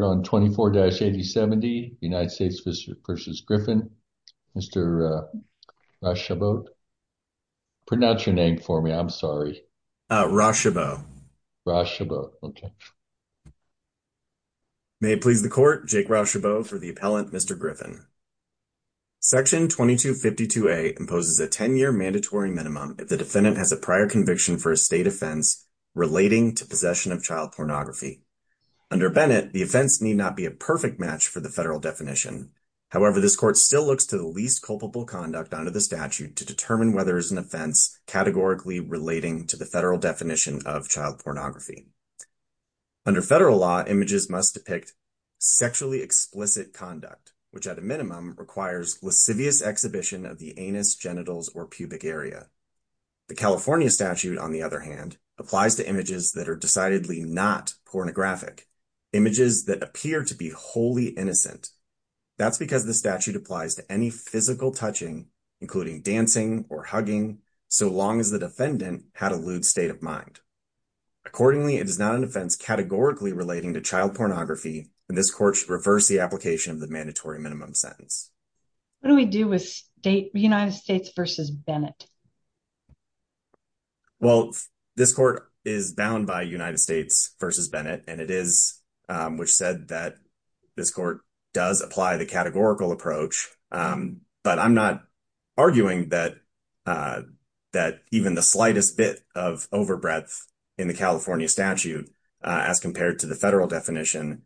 You're on 24-8070, United States v. Griffin. Mr. Rachebeau, pronounce your name for me, I'm sorry. Rachebeau. Rachebeau, okay. May it please the court, Jake Rachebeau for the appellant, Mr. Griffin. Section 2252A imposes a 10-year mandatory minimum if the defendant has a prior conviction for a state offense relating to possession of child pornography. Under Bennett, the offense need not be a perfect match for the federal definition. However, this court still looks to the least culpable conduct under the statute to determine whether it's an offense categorically relating to the federal definition of child pornography. Under federal law, images must depict sexually explicit conduct, which at a minimum requires lascivious exhibition of the anus, genitals, or pubic area. The California statute, on the other images that appear to be wholly innocent. That's because the statute applies to any physical touching, including dancing or hugging, so long as the defendant had a lewd state of mind. Accordingly, it is not an offense categorically relating to child pornography, and this court should reverse the application of the mandatory minimum sentence. What do we do with United States v. Bennett? Well, this court is bound by United States v. Bennett, and it is, which said that this court does apply the categorical approach, but I'm not arguing that even the slightest bit of overbreadth in the California statute as compared to the federal definition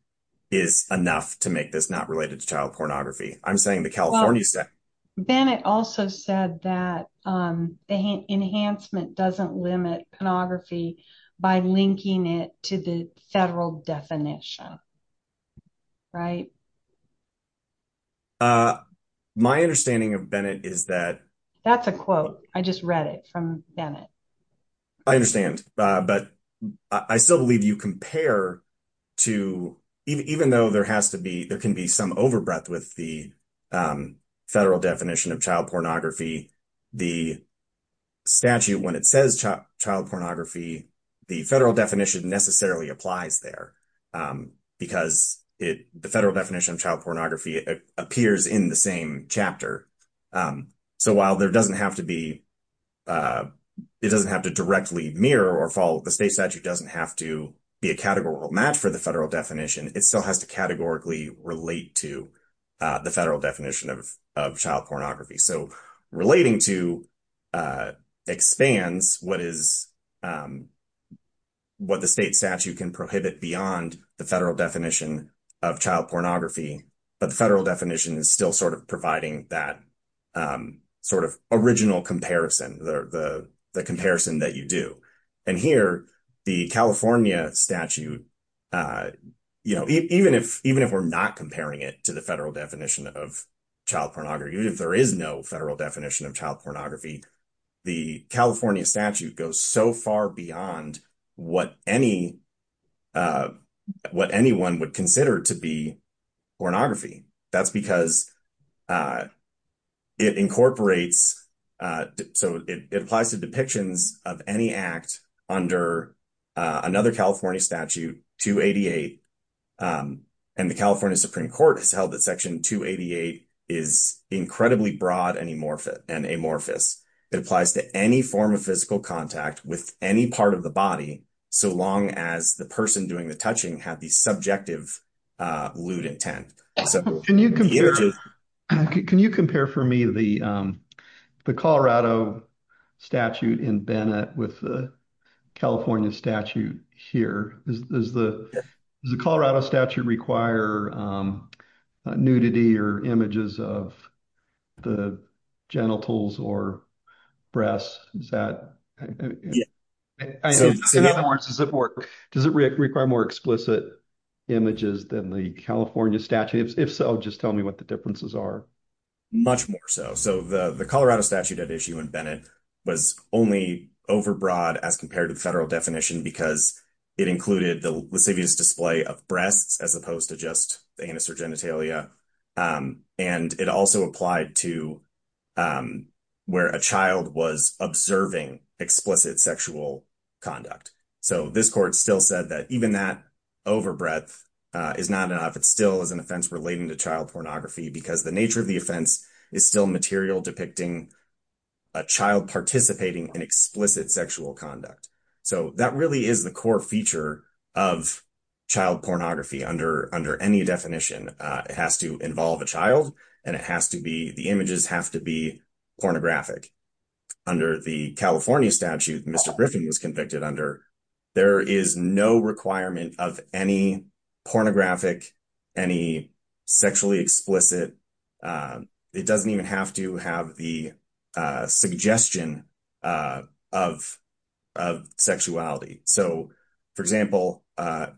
is enough to make this not related to child pornography. I'm saying the California statute. Bennett also said that the enhancement doesn't limit pornography by linking it to the federal definition, right? My understanding of Bennett is that- That's a quote. I just read it from Bennett. I understand, but I still believe you compare to, even though there has to be, there can be some overbreadth with the federal definition of child pornography, the statute, when it says child pornography, the federal definition necessarily applies there because the federal definition of child pornography appears in the same chapter. So while there doesn't have to be, it doesn't have to directly mirror or follow, the state statute doesn't have to a categorical match for the federal definition. It still has to categorically relate to the federal definition of child pornography. So relating to expands what is, what the state statute can prohibit beyond the federal definition of child pornography, but the federal definition is still sort of providing that sort of original comparison, the comparison that you do. And here, the California statute, even if we're not comparing it to the federal definition of child pornography, even if there is no federal definition of child pornography, the California statute goes so far beyond what anyone would consider to be it applies to depictions of any act under another California statute 288. And the California Supreme Court has held that section 288 is incredibly broad and amorphous. It applies to any form of physical contact with any part of the body. So long as the person doing touching had the subjective lewd intent. Can you compare for me the Colorado statute in Bennett with the California statute here? Does the Colorado statute require nudity or images of the genitals or breasts? Does it work? Does it require more explicit images than the California statute? If so, just tell me what the differences are. Much more so. So the Colorado statute at issue in Bennett was only overbroad as compared to the federal definition because it included the lascivious display of breasts as opposed to just the anus or genitalia. And it also applied to where a child was observing explicit sexual conduct. So this court still said that even that overbreadth is not enough. It still is an offense relating to child pornography because the nature of the offense is still material depicting a child participating in explicit sexual conduct. So that really is the core feature of child pornography under any definition. It has to involve a child and the images have to be pornographic. Under the California statute, Mr. Griffin was convicted under, there is no requirement of any pornographic, any sexually sexuality. So, for example,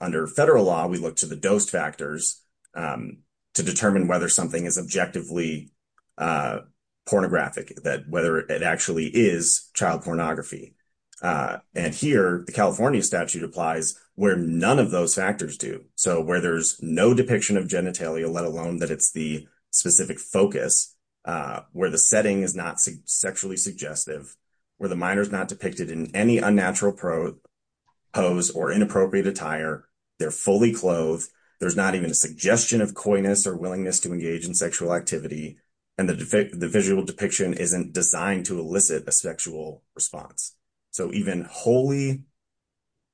under federal law, we look to the dose factors to determine whether something is objectively pornographic, whether it actually is child pornography. And here, the California statute applies where none of those factors do. So where there's no depiction of genitalia, let alone that it's the specific focus, where the setting is not sexually suggestive, where the minor is not depicted in any unnatural pose or inappropriate attire, they're fully clothed, there's not even a suggestion of coyness or willingness to engage in sexual activity, and the visual depiction isn't designed to elicit a sexual response. So even wholly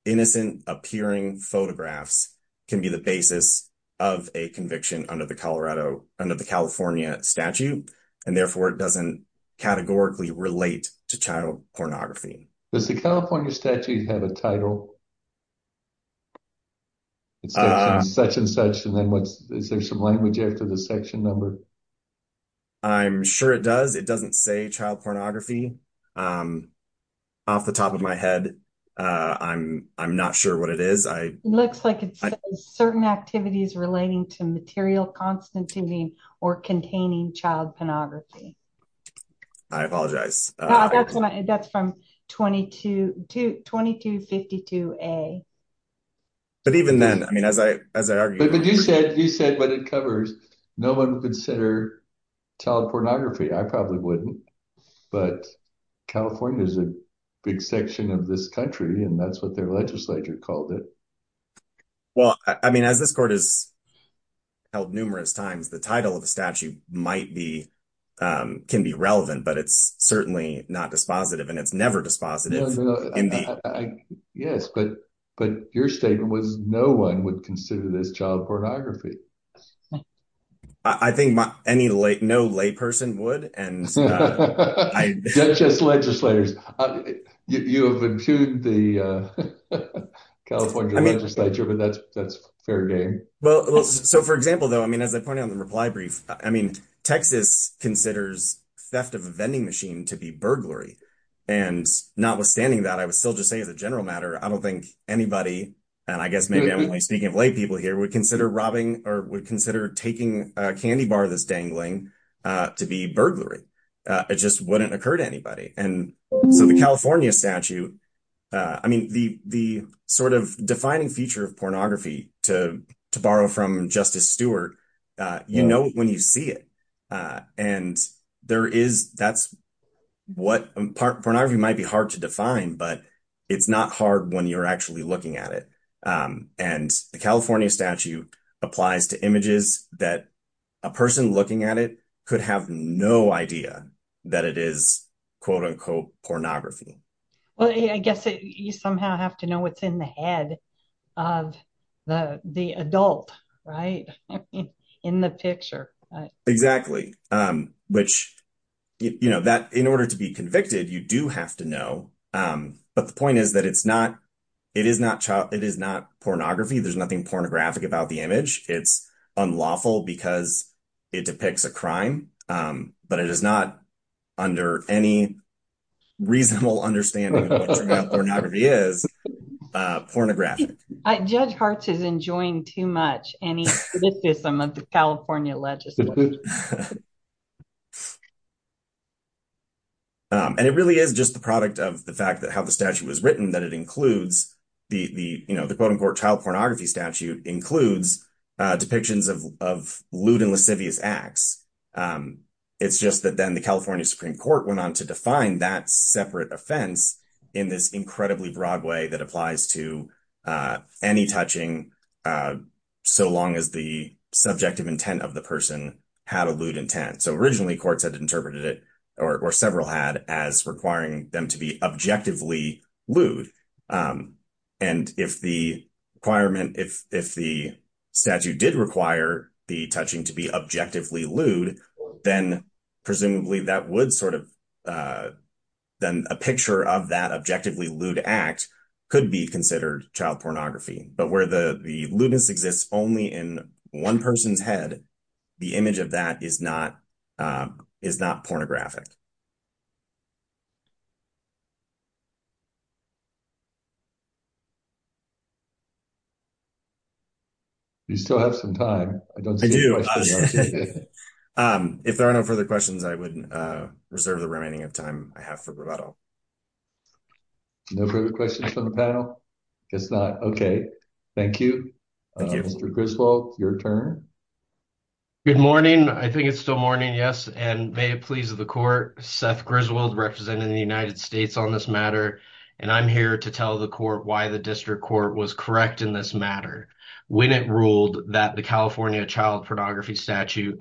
innocent appearing photographs can be the basis of a conviction under the California statute, and therefore it doesn't categorically relate to child pornography. Does the California statute have a title? It says such and such, and then what's, is there some language after the section number? I'm sure it does. It doesn't say child pornography. Off the top of my head, I'm not sure what it is. It looks like it says certain activities relating to material constituting or containing child pornography. I apologize. That's from 2252A. But even then, I mean, as I argued... But you said what it covers. No one would consider child pornography. I probably wouldn't. But California is a big section of this country, and that's what their legislature called it. Well, I mean, as this court has held numerous times, the title of the statute can be relevant, but it's certainly not dispositive, and it's never dispositive. Yes, but your statement was no one would consider this child pornography. I think no layperson would. Judges, legislators, you have impugned the California legislature, but that's fair game. Well, so for example, though, I mean, as I pointed out in the reply brief, I mean, Texas considers theft of a vending machine to be burglary. And notwithstanding that, I would still just say as a general matter, I don't think anybody, and I guess maybe I'm only speaking of lay people here, would consider robbing or would consider taking a candy bar that's dangling to be burglary. It just wouldn't occur to anybody. And so the California statute, I mean, the sort of defining feature of pornography, to borrow from Justice Stewart, you know when you see it. And there is, that's what... Pornography might be hard to define, but it's not hard when you're actually looking at it. And the California statute applies to images that a person looking at it could have no idea that it is quote unquote pornography. Well, I guess you somehow have to know what's in the head of the adult, right? In the picture. Exactly. Which, you know, that in order to be convicted, you do have to know. But the point is that it is not pornography. There's nothing pornographic about the image. It's unlawful because it depicts a crime, but it is not under any reasonable understanding of what pornography is pornographic. Judge Hartz is enjoying too much any criticism of the California legislature. And it really is just the product of the fact that how the statute was written, that it includes the quote unquote child pornography statute includes depictions of lewd and lascivious acts. It's just that then the California Supreme Court went on to define that separate offense in this incredibly broad way that applies to any touching, uh, so long as the subjective intent of the person had a lewd intent. So originally courts had interpreted it, or several had, as requiring them to be objectively lewd. And if the requirement, if the statute did require the touching to be objectively lewd, then presumably that would sort of, uh, then a picture of that objectively lewd act could be considered child pornography, but where the lewdness exists only in one person's head, the image of that is not, um, is not pornographic. You still have some time. If there are no further questions, I would, uh, reserve the remaining of time I have for bravado. No further questions from the panel? I guess not. Okay. Thank you. Mr. Griswold, your turn. Good morning. I think it's still morning. Yes. And may it please the court, Seth Griswold representing the United States on this matter. And I'm here to tell the court why the district court was correct in this matter when it ruled that the California child pornography statute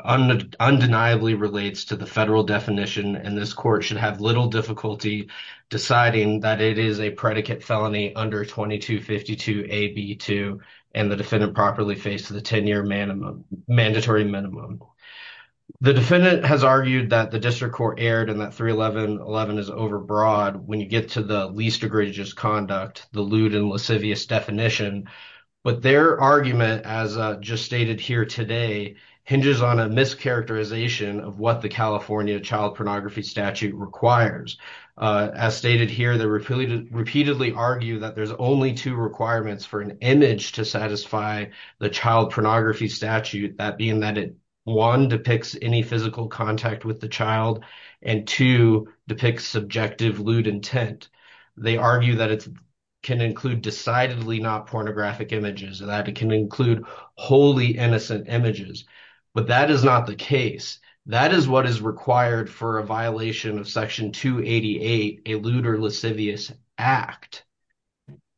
undeniably relates to the federal definition and this court should have little difficulty deciding that it is a predicate felony under 2252 AB2 and the defendant properly faced the 10-year minimum, mandatory minimum. The defendant has argued that the district court erred and that 31111 is overbroad when you get to the least egregious conduct, the lewd and lascivious definition, but their argument as just stated here today hinges on a mischaracterization of what the California child pornography statute requires. As stated here, they repeatedly argue that there's only two requirements for an image to satisfy the child pornography statute. That being that it, one, depicts any physical contact with the child and two, depicts subjective lewd intent. They argue that it can include decidedly not pornographic images and that it can include wholly innocent images, but that is not the case. That is what is required for a violation of section 288, a lewd or lascivious act.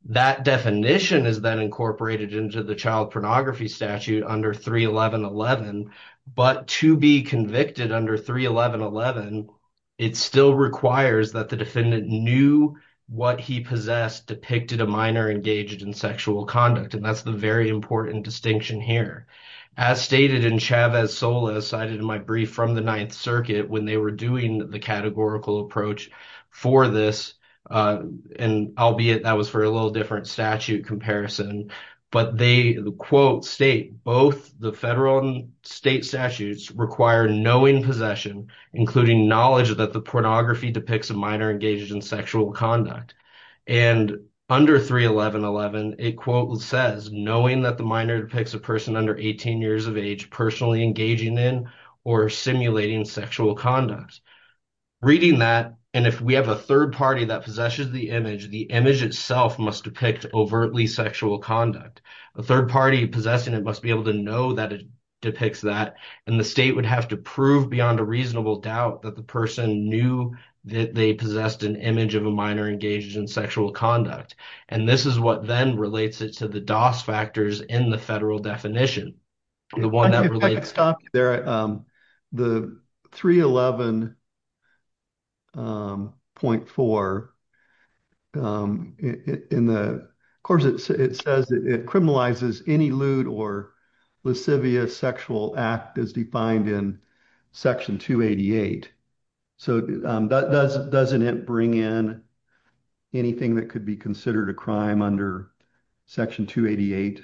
That definition is then incorporated into the child pornography statute under 31111, but to be convicted under 31111, it still requires that the defendant knew what he possessed depicted a minor engaged in sexual conduct and that's the important distinction here. As stated in Chavez-Solas cited in my brief from the Ninth Circuit when they were doing the categorical approach for this and albeit that was for a little different statute comparison, but they quote state both the federal and state statutes require knowing possession including knowledge that the pornography depicts a minor engaged in sexual conduct and under 31111, it quote says knowing that the minor depicts a person under 18 years of age personally engaging in or simulating sexual conduct. Reading that and if we have a third party that possesses the image, the image itself must depict overtly sexual conduct. A third party possessing it must be able to know that it depicts that and the state would have to beyond a reasonable doubt that the person knew that they possessed an image of a minor engaged in sexual conduct and this is what then relates it to the DOS factors in the federal definition. The 311.4, of course it says it criminalizes any lewd or lascivious sexual act as defined in section 288, so that doesn't it bring in anything that could be considered a crime under section 288?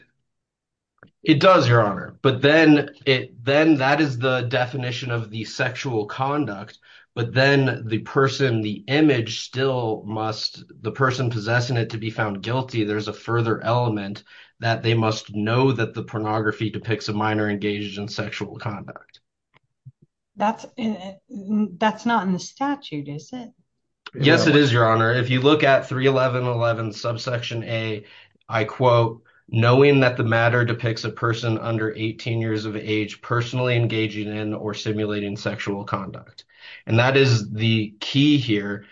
It does your honor, but then it then that is the definition of the sexual conduct, but then the person the image still must the person possessing it to be found guilty there's a further element that they must know that the pornography depicts a minor engaged in sexual conduct. That's not in the statute is it? Yes it is your honor if you look at 311.11 subsection a I quote knowing that the matter depicts a person under 18 years of age personally engaging in or simulating sexual conduct and that is the key here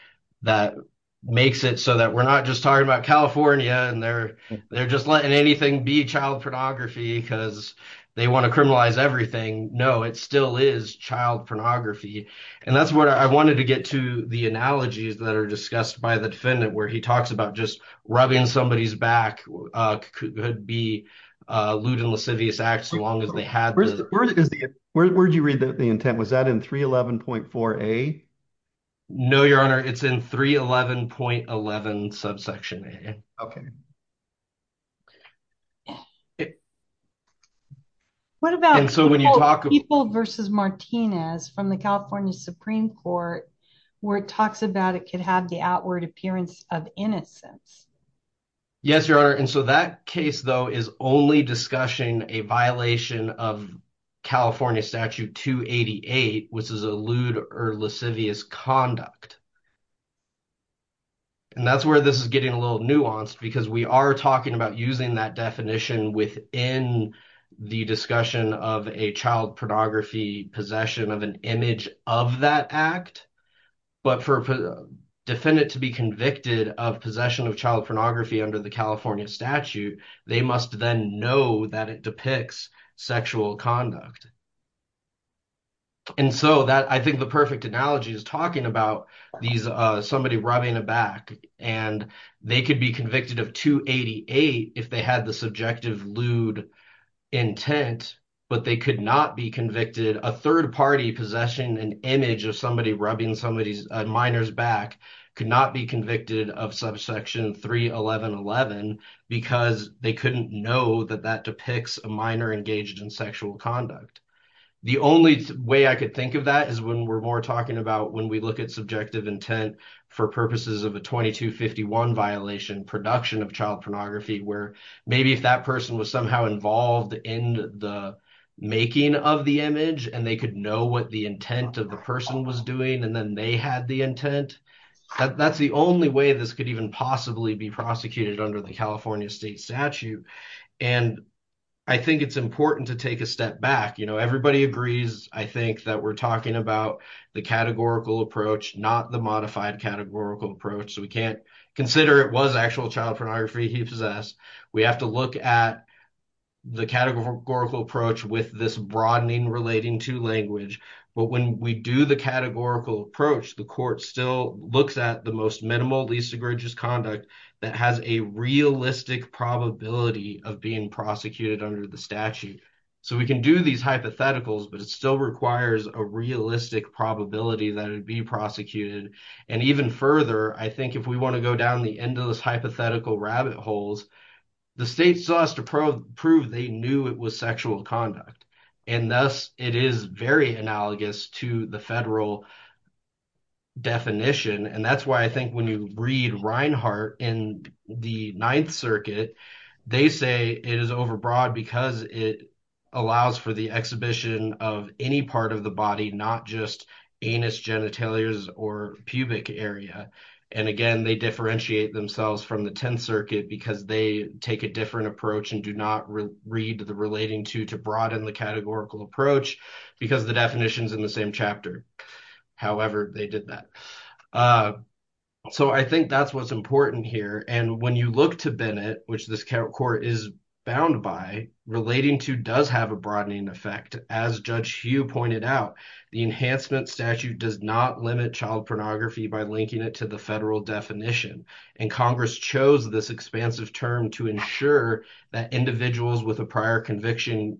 that makes it so that we're not just talking about California and they're they're just letting anything be child pornography because they want to criminalize everything no it still is child pornography and that's what I wanted to get to the analogies that are discussed by the defendant where he talks about just rubbing somebody's back could be a lewd and lascivious act so long as they had where is the where did you read the intent was that in 311.4a? No your honor it's in 311.11 subsection a. Okay. What about so when you talk people versus Martinez from the California Supreme Court where it talks about it could have the outward appearance of innocence? Yes your honor and so that case though is only discussing a violation of California statute 288 which is a lewd or lascivious conduct and that's where this is getting a little nuanced because we are talking about using that definition within the discussion of a child pornography possession of an image of that act but for a defendant to be convicted of possession of child pornography under the California statute they must then know that it depicts sexual conduct and so that I think the perfect analogy is talking about these uh somebody rubbing a back and they could be convicted of 288 if they had the subjective lewd intent but they could not be convicted a third party possession an image of somebody rubbing somebody's minors back could not be convicted of subsection 311.11 because they couldn't know that that depicts a minor engaged in sexual conduct. The only way I could think of that is when we're more talking about when we look at subjective intent for purposes of a 2251 violation production of child pornography where maybe if that person was somehow involved in the making of the image and they could know what the intent of the person was doing and then they had the intent that's the only way this could even possibly be prosecuted under the California state statute and I think it's important to take a step back you know everybody agrees I think that we're talking about the categorical approach not the modified categorical approach so we can't consider it was actual child pornography he possessed we have to look at the categorical approach with this broadening relating to language but when we do the categorical approach the court still looks at the most minimal least egregious conduct that has a realistic probability of being but it still requires a realistic probability that it'd be prosecuted and even further I think if we want to go down the endless hypothetical rabbit holes the state still has to prove they knew it was sexual conduct and thus it is very analogous to the federal definition and that's why I think when you read Reinhart in the ninth circuit they say it is overbroad because it allows for the exhibition of any part of the body not just anus genitalia or pubic area and again they differentiate themselves from the 10th circuit because they take a different approach and do not read the relating to to broaden the categorical approach because the definitions in the same chapter however they did that so I think that's what's important here and when you look to Bennett which this court is bound by relating to does have a broadening effect as Judge Hugh pointed out the enhancement statute does not limit child pornography by linking it to the federal definition and Congress chose this expansive term to ensure that individuals with a prior conviction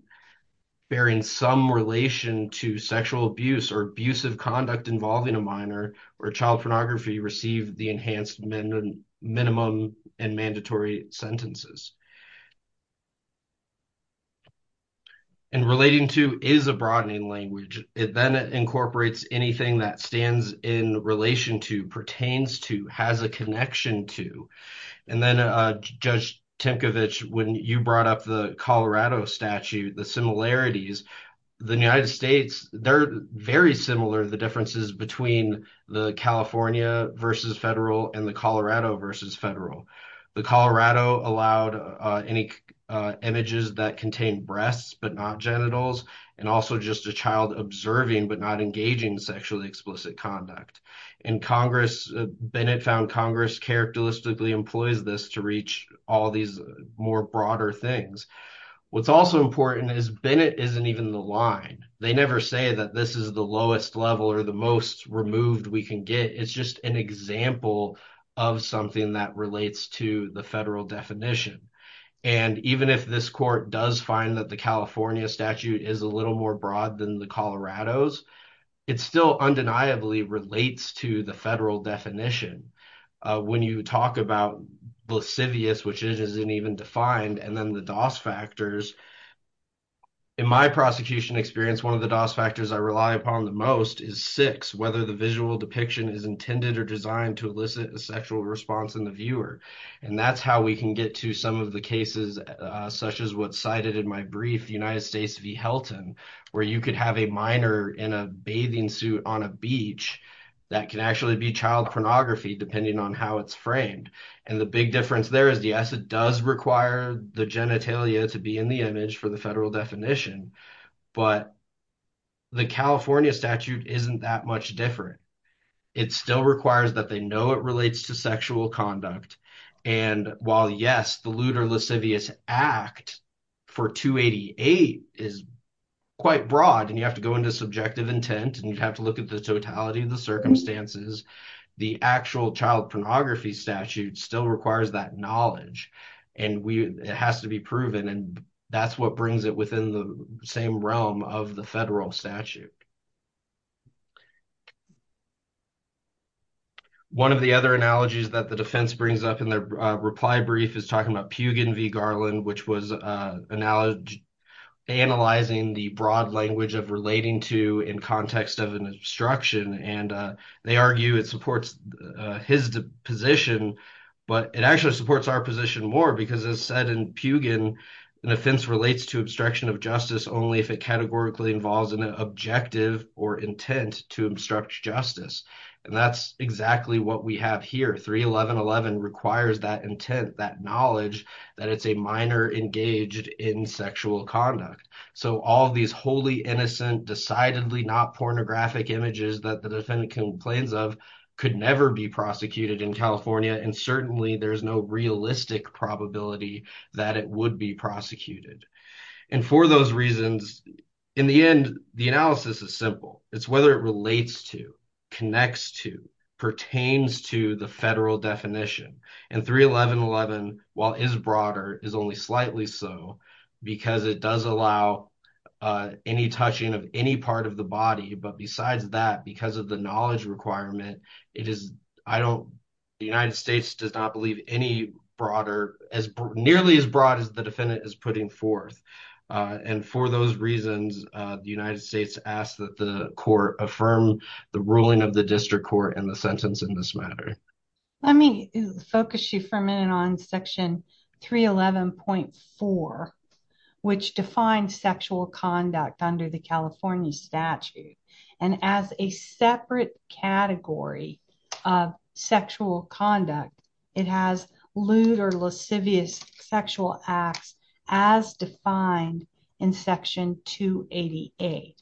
bearing some relation to sexual abuse or abusive conduct involving a minor or child pornography receive the enhanced minimum and mandatory sentences and relating to is a broadening language it then incorporates anything that stands in relation to pertains to has a connection to and then Judge Tinkovich when you brought up the Colorado statute the similarities the United States they're very similar the differences between the California versus federal and the Colorado versus federal the Colorado allowed any images that contain breasts but not genitals and also just a child observing but not engaging sexually explicit conduct in Congress Bennett found Congress characteristically employs this to reach all these more broader things what's also important is Bennett isn't even the line they never say that this is the lowest level or the most removed we can get it's just an example of something that relates to the federal definition and even if this court does find that the California statute is a little more broad than the Colorado's it still undeniably relates to the federal definition when you talk about lascivious which isn't even defined and then the DOS factors in my prosecution experience one of the DOS factors I rely upon the most is six whether the visual depiction is intended or designed to elicit a sexual response in the viewer and that's how we can get to some of the cases such as what's cited in my brief United States v Helton where you could have a minor in a bathing suit on a beach that can actually be child pornography depending on how it's framed and the big difference there is the asset does require the genitalia to be in the image for the federal definition but the California statute isn't that much different it still requires that they know it relates to sexual conduct and while yes the lewd or lascivious act for 288 is quite broad and you have to go into subjective intent and you have to look at the totality of the circumstances the actual child pornography statute still requires that knowledge and we it has to be proven and that's what brings it within the same realm of the federal statute one of the other analogies that the defense brings up in their reply brief is talking about Pugin v Garland which was uh analogy analyzing the broad language of relating to in context of an and they argue it supports his position but it actually supports our position more because as said in Pugin an offense relates to obstruction of justice only if it categorically involves an objective or intent to obstruct justice and that's exactly what we have here 3111 requires that intent that knowledge that it's a minor engaged in sexual conduct so all these wholly innocent decidedly not pornographic images that the defendant complains of could never be prosecuted in California and certainly there's no realistic probability that it would be prosecuted and for those reasons in the end the analysis is simple it's whether it relates to connects to pertains to the federal definition and 3111 while is broader is only slightly so because it does allow any touching of any part of the body but besides that because of the knowledge requirement it is I don't the United States does not believe any broader as nearly as broad as the defendant is putting forth and for those reasons the United States asks that the court affirm the ruling of the district court and the sentence in this matter let me focus you for a minute on section 311.4 which defines sexual conduct under the California statute and as a separate category of sexual conduct it has lewd or lascivious sexual acts as defined in section 288.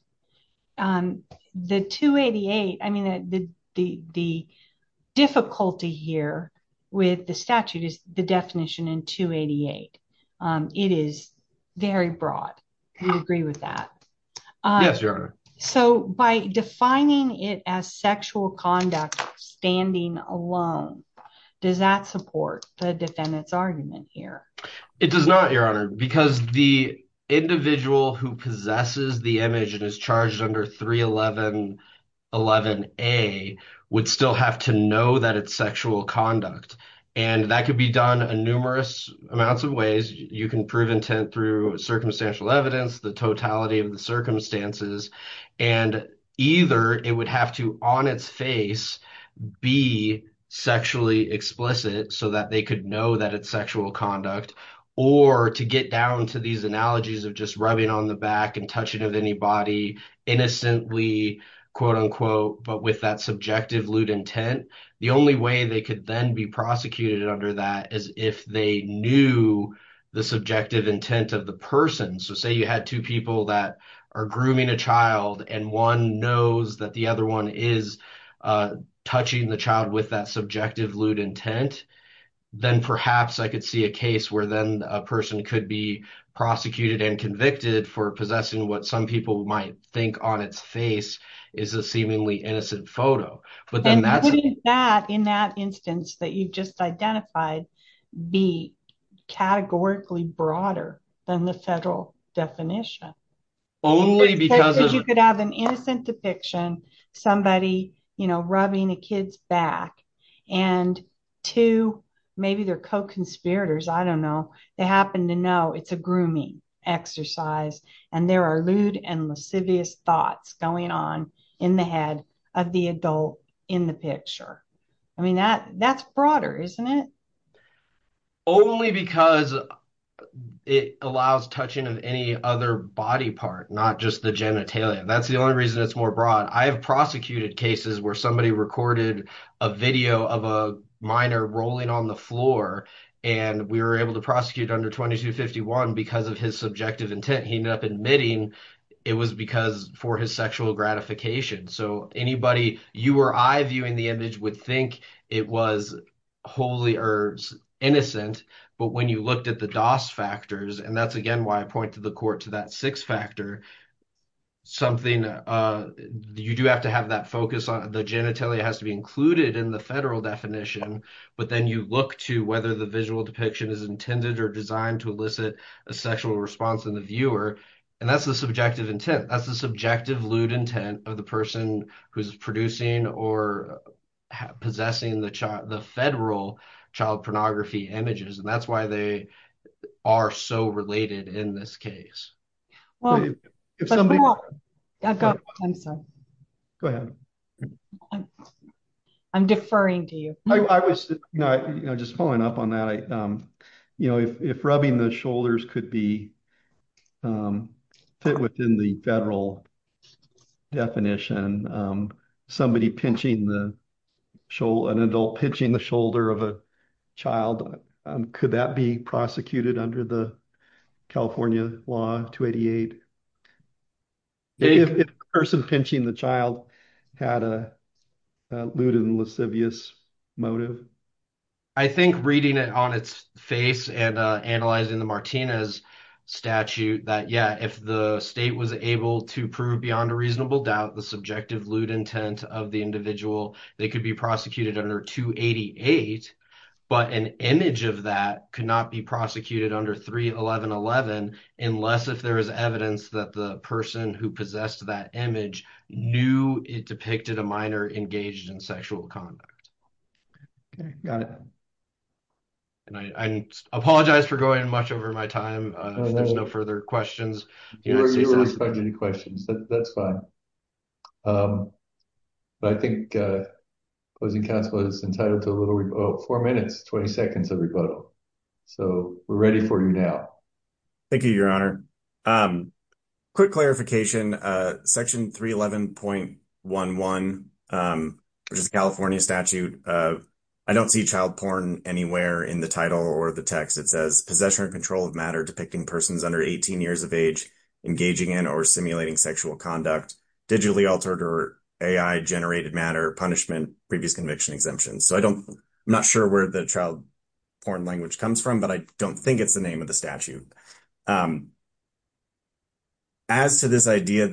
The 288 I mean that the the difficulty here with the statute is the definition in 288 it is very broad you agree with that yes your honor so by defining it as sexual conduct standing alone does that support the defendant's argument here it does not your honor because the individual who possesses the image and is charged under 31111a would still have to know that it's sexual conduct and that could be done in numerous amounts of ways you can prove intent through circumstantial evidence the totality of the circumstances and either it would have to on its face be sexually explicit so that they could know that it's sexual conduct or to get down to these analogies of just rubbing on the back and touching of anybody innocently quote-unquote but with that subjective lewd intent the only way they could then be prosecuted under that is if they knew the subjective intent of the person so say you had two people that are grooming a child and one knows that the other one is touching the child with that subjective lewd intent then perhaps i could see a case where then a person could be prosecuted and convicted for possessing what some people might think on its face is a seemingly innocent photo but then that's that in that instance that you've just identified be categorically broader than the federal definition only because you could have an innocent depiction somebody you know rubbing a kid's back and two maybe they're co-conspirators i don't know they happen to know it's a grooming exercise and there are lewd and lascivious thoughts going on in the head of the adult in the picture i mean that that's broader isn't it only because it allows touching of any other body part not just the genitalia that's the only reason it's more broad i have prosecuted cases where somebody recorded a video of a minor rolling on the floor and we were able to prosecute under 22 51 because of his subjective intent he ended up admitting it was because for his sexual gratification so anybody you or i viewing the image would think it was wholly or innocent but when you looked at the dos factors and that's again why i point to the court to that six factor something uh you do have to have that focus on the genitalia has to be included in the federal definition but then you look to whether the visual depiction is intended or designed to elicit a sexual response in the viewer and that's the subjective intent that's the subjective lewd intent of the person who's producing or possessing the child the federal child pornography images and that's why they are so related in this case well i'm sorry go ahead i'm deferring to you i was you know just following up on that i um you know if rubbing the shoulders could be um fit within the federal definition um somebody pinching the show an adult pinching the shoulder of a child could that be prosecuted under the california law 288 if a person pinching the child had a lewd and lascivious motive i think reading it on its face and analyzing the martinez statute that yeah if the state was able to prove beyond a reasonable doubt the subjective lewd of the individual they could be prosecuted under 288 but an image of that could not be prosecuted under 3 11 11 unless if there is evidence that the person who possessed that image knew it depicted a minor engaged in sexual conduct okay got it and i i apologize for going much over my time uh if there's no further questions you know any questions that's fine um but i think uh closing council is entitled to a little four minutes 20 seconds of rebuttal so we're ready for you now thank you your honor um quick clarification uh section 311.11 um which is california statute uh i don't see child porn anywhere in the title or the text it says possession and control of matter depicting persons under 18 years of age engaging in or simulating sexual conduct digitally altered or ai generated matter punishment previous conviction exemption so i don't i'm not sure where the child porn language comes from but i don't think it's the name of the statute um as to this idea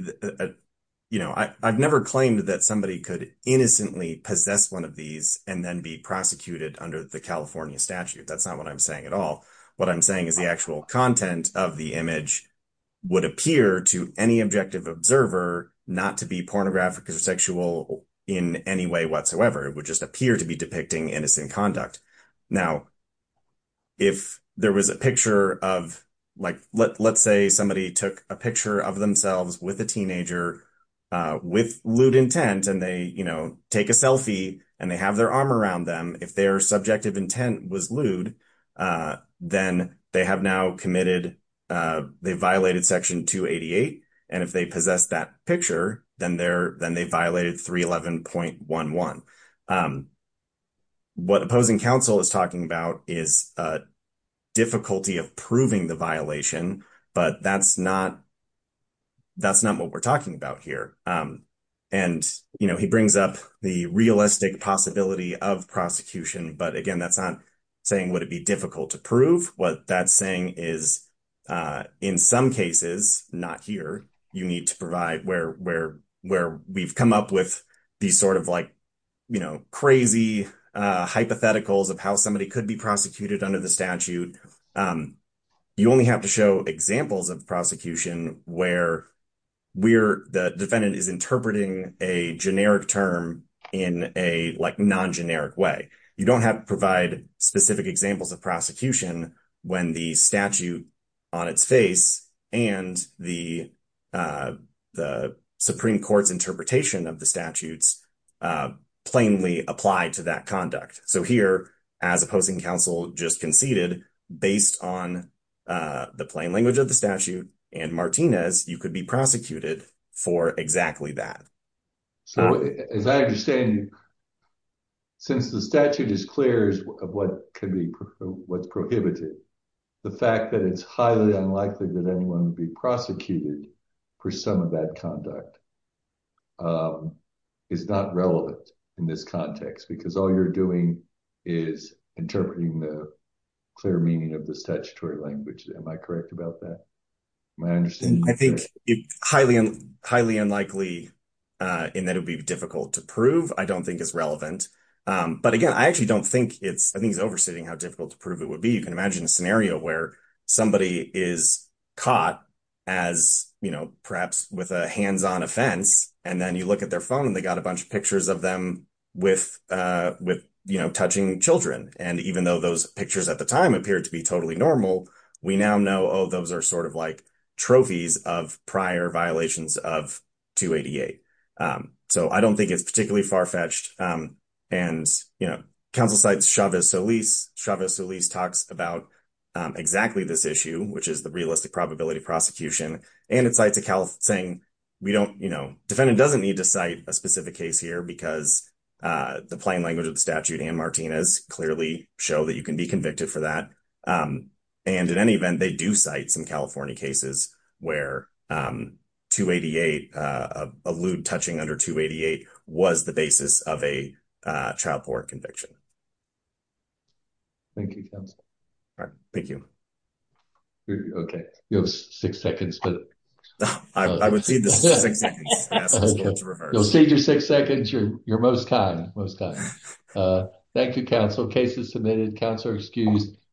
you know i i've never claimed that somebody could innocently possess one of these and then be prosecuted under the california statute that's not what i'm saying at all what i'm saying is the actual content of the image would appear to any objective observer not to be pornographic or sexual in any way whatsoever it would just appear to be depicting innocent conduct now if there was a picture of like let's say somebody took a picture of themselves with a teenager uh with lewd intent and they you know take a selfie and they have their arm around them if their subjective intent was lewd uh then they have now committed uh they and if they possess that picture then they're then they violated 311.11 what opposing counsel is talking about is a difficulty of proving the violation but that's not that's not what we're talking about here um and you know he brings up the realistic possibility of prosecution but again that's not saying would it be difficult to prove what that's saying is uh in some cases not here you need to provide where where where we've come up with these sort of like you know crazy uh hypotheticals of how somebody could be prosecuted under the statute um you only have to show examples of prosecution where we're the defendant is interpreting a generic term in a like non-generic way you don't have to provide specific examples of prosecution when the statute on its face and the uh the supreme court's interpretation of the statutes uh plainly apply to that conduct so here as opposing counsel just conceded based on the plain language of the statute and martinez you could be prosecuted for exactly that so as i understand since the statute is clear of what could be what's prohibited the fact that it's highly unlikely that anyone would be prosecuted for some of that conduct um is not relevant in this context because all you're doing is interpreting the clear meaning of the statutory language am i correct about that my understanding i think it's highly highly unlikely uh and that would be difficult to prove i don't think it's relevant um but again i actually don't think it's i think it's oversetting how difficult to prove it would be you can imagine a scenario where somebody is caught as you know perhaps with a hands-on offense and then you look at their phone and they got a bunch of pictures of them with uh with you know touching children and even though those pictures at the time appeared to be totally normal we now know oh those are sort of like trophies of prior violations of 288 um so i don't think it's particularly far-fetched um and you know counsel cites chavez solis chavez solis talks about exactly this issue which is the realistic probability prosecution and it cites a cal saying we don't you know defendant doesn't need to cite a specific case here because uh the plain language of the statute and martinez clearly show that you can be convicted for that um and in any event they do cite some california cases where um 288 uh allude touching under 288 was the basis of a child court conviction thank you counsel all right thank you okay you have six seconds but i would see this okay you'll save your six seconds you're you're most kind most time thank you counsel cases submitted counselor excused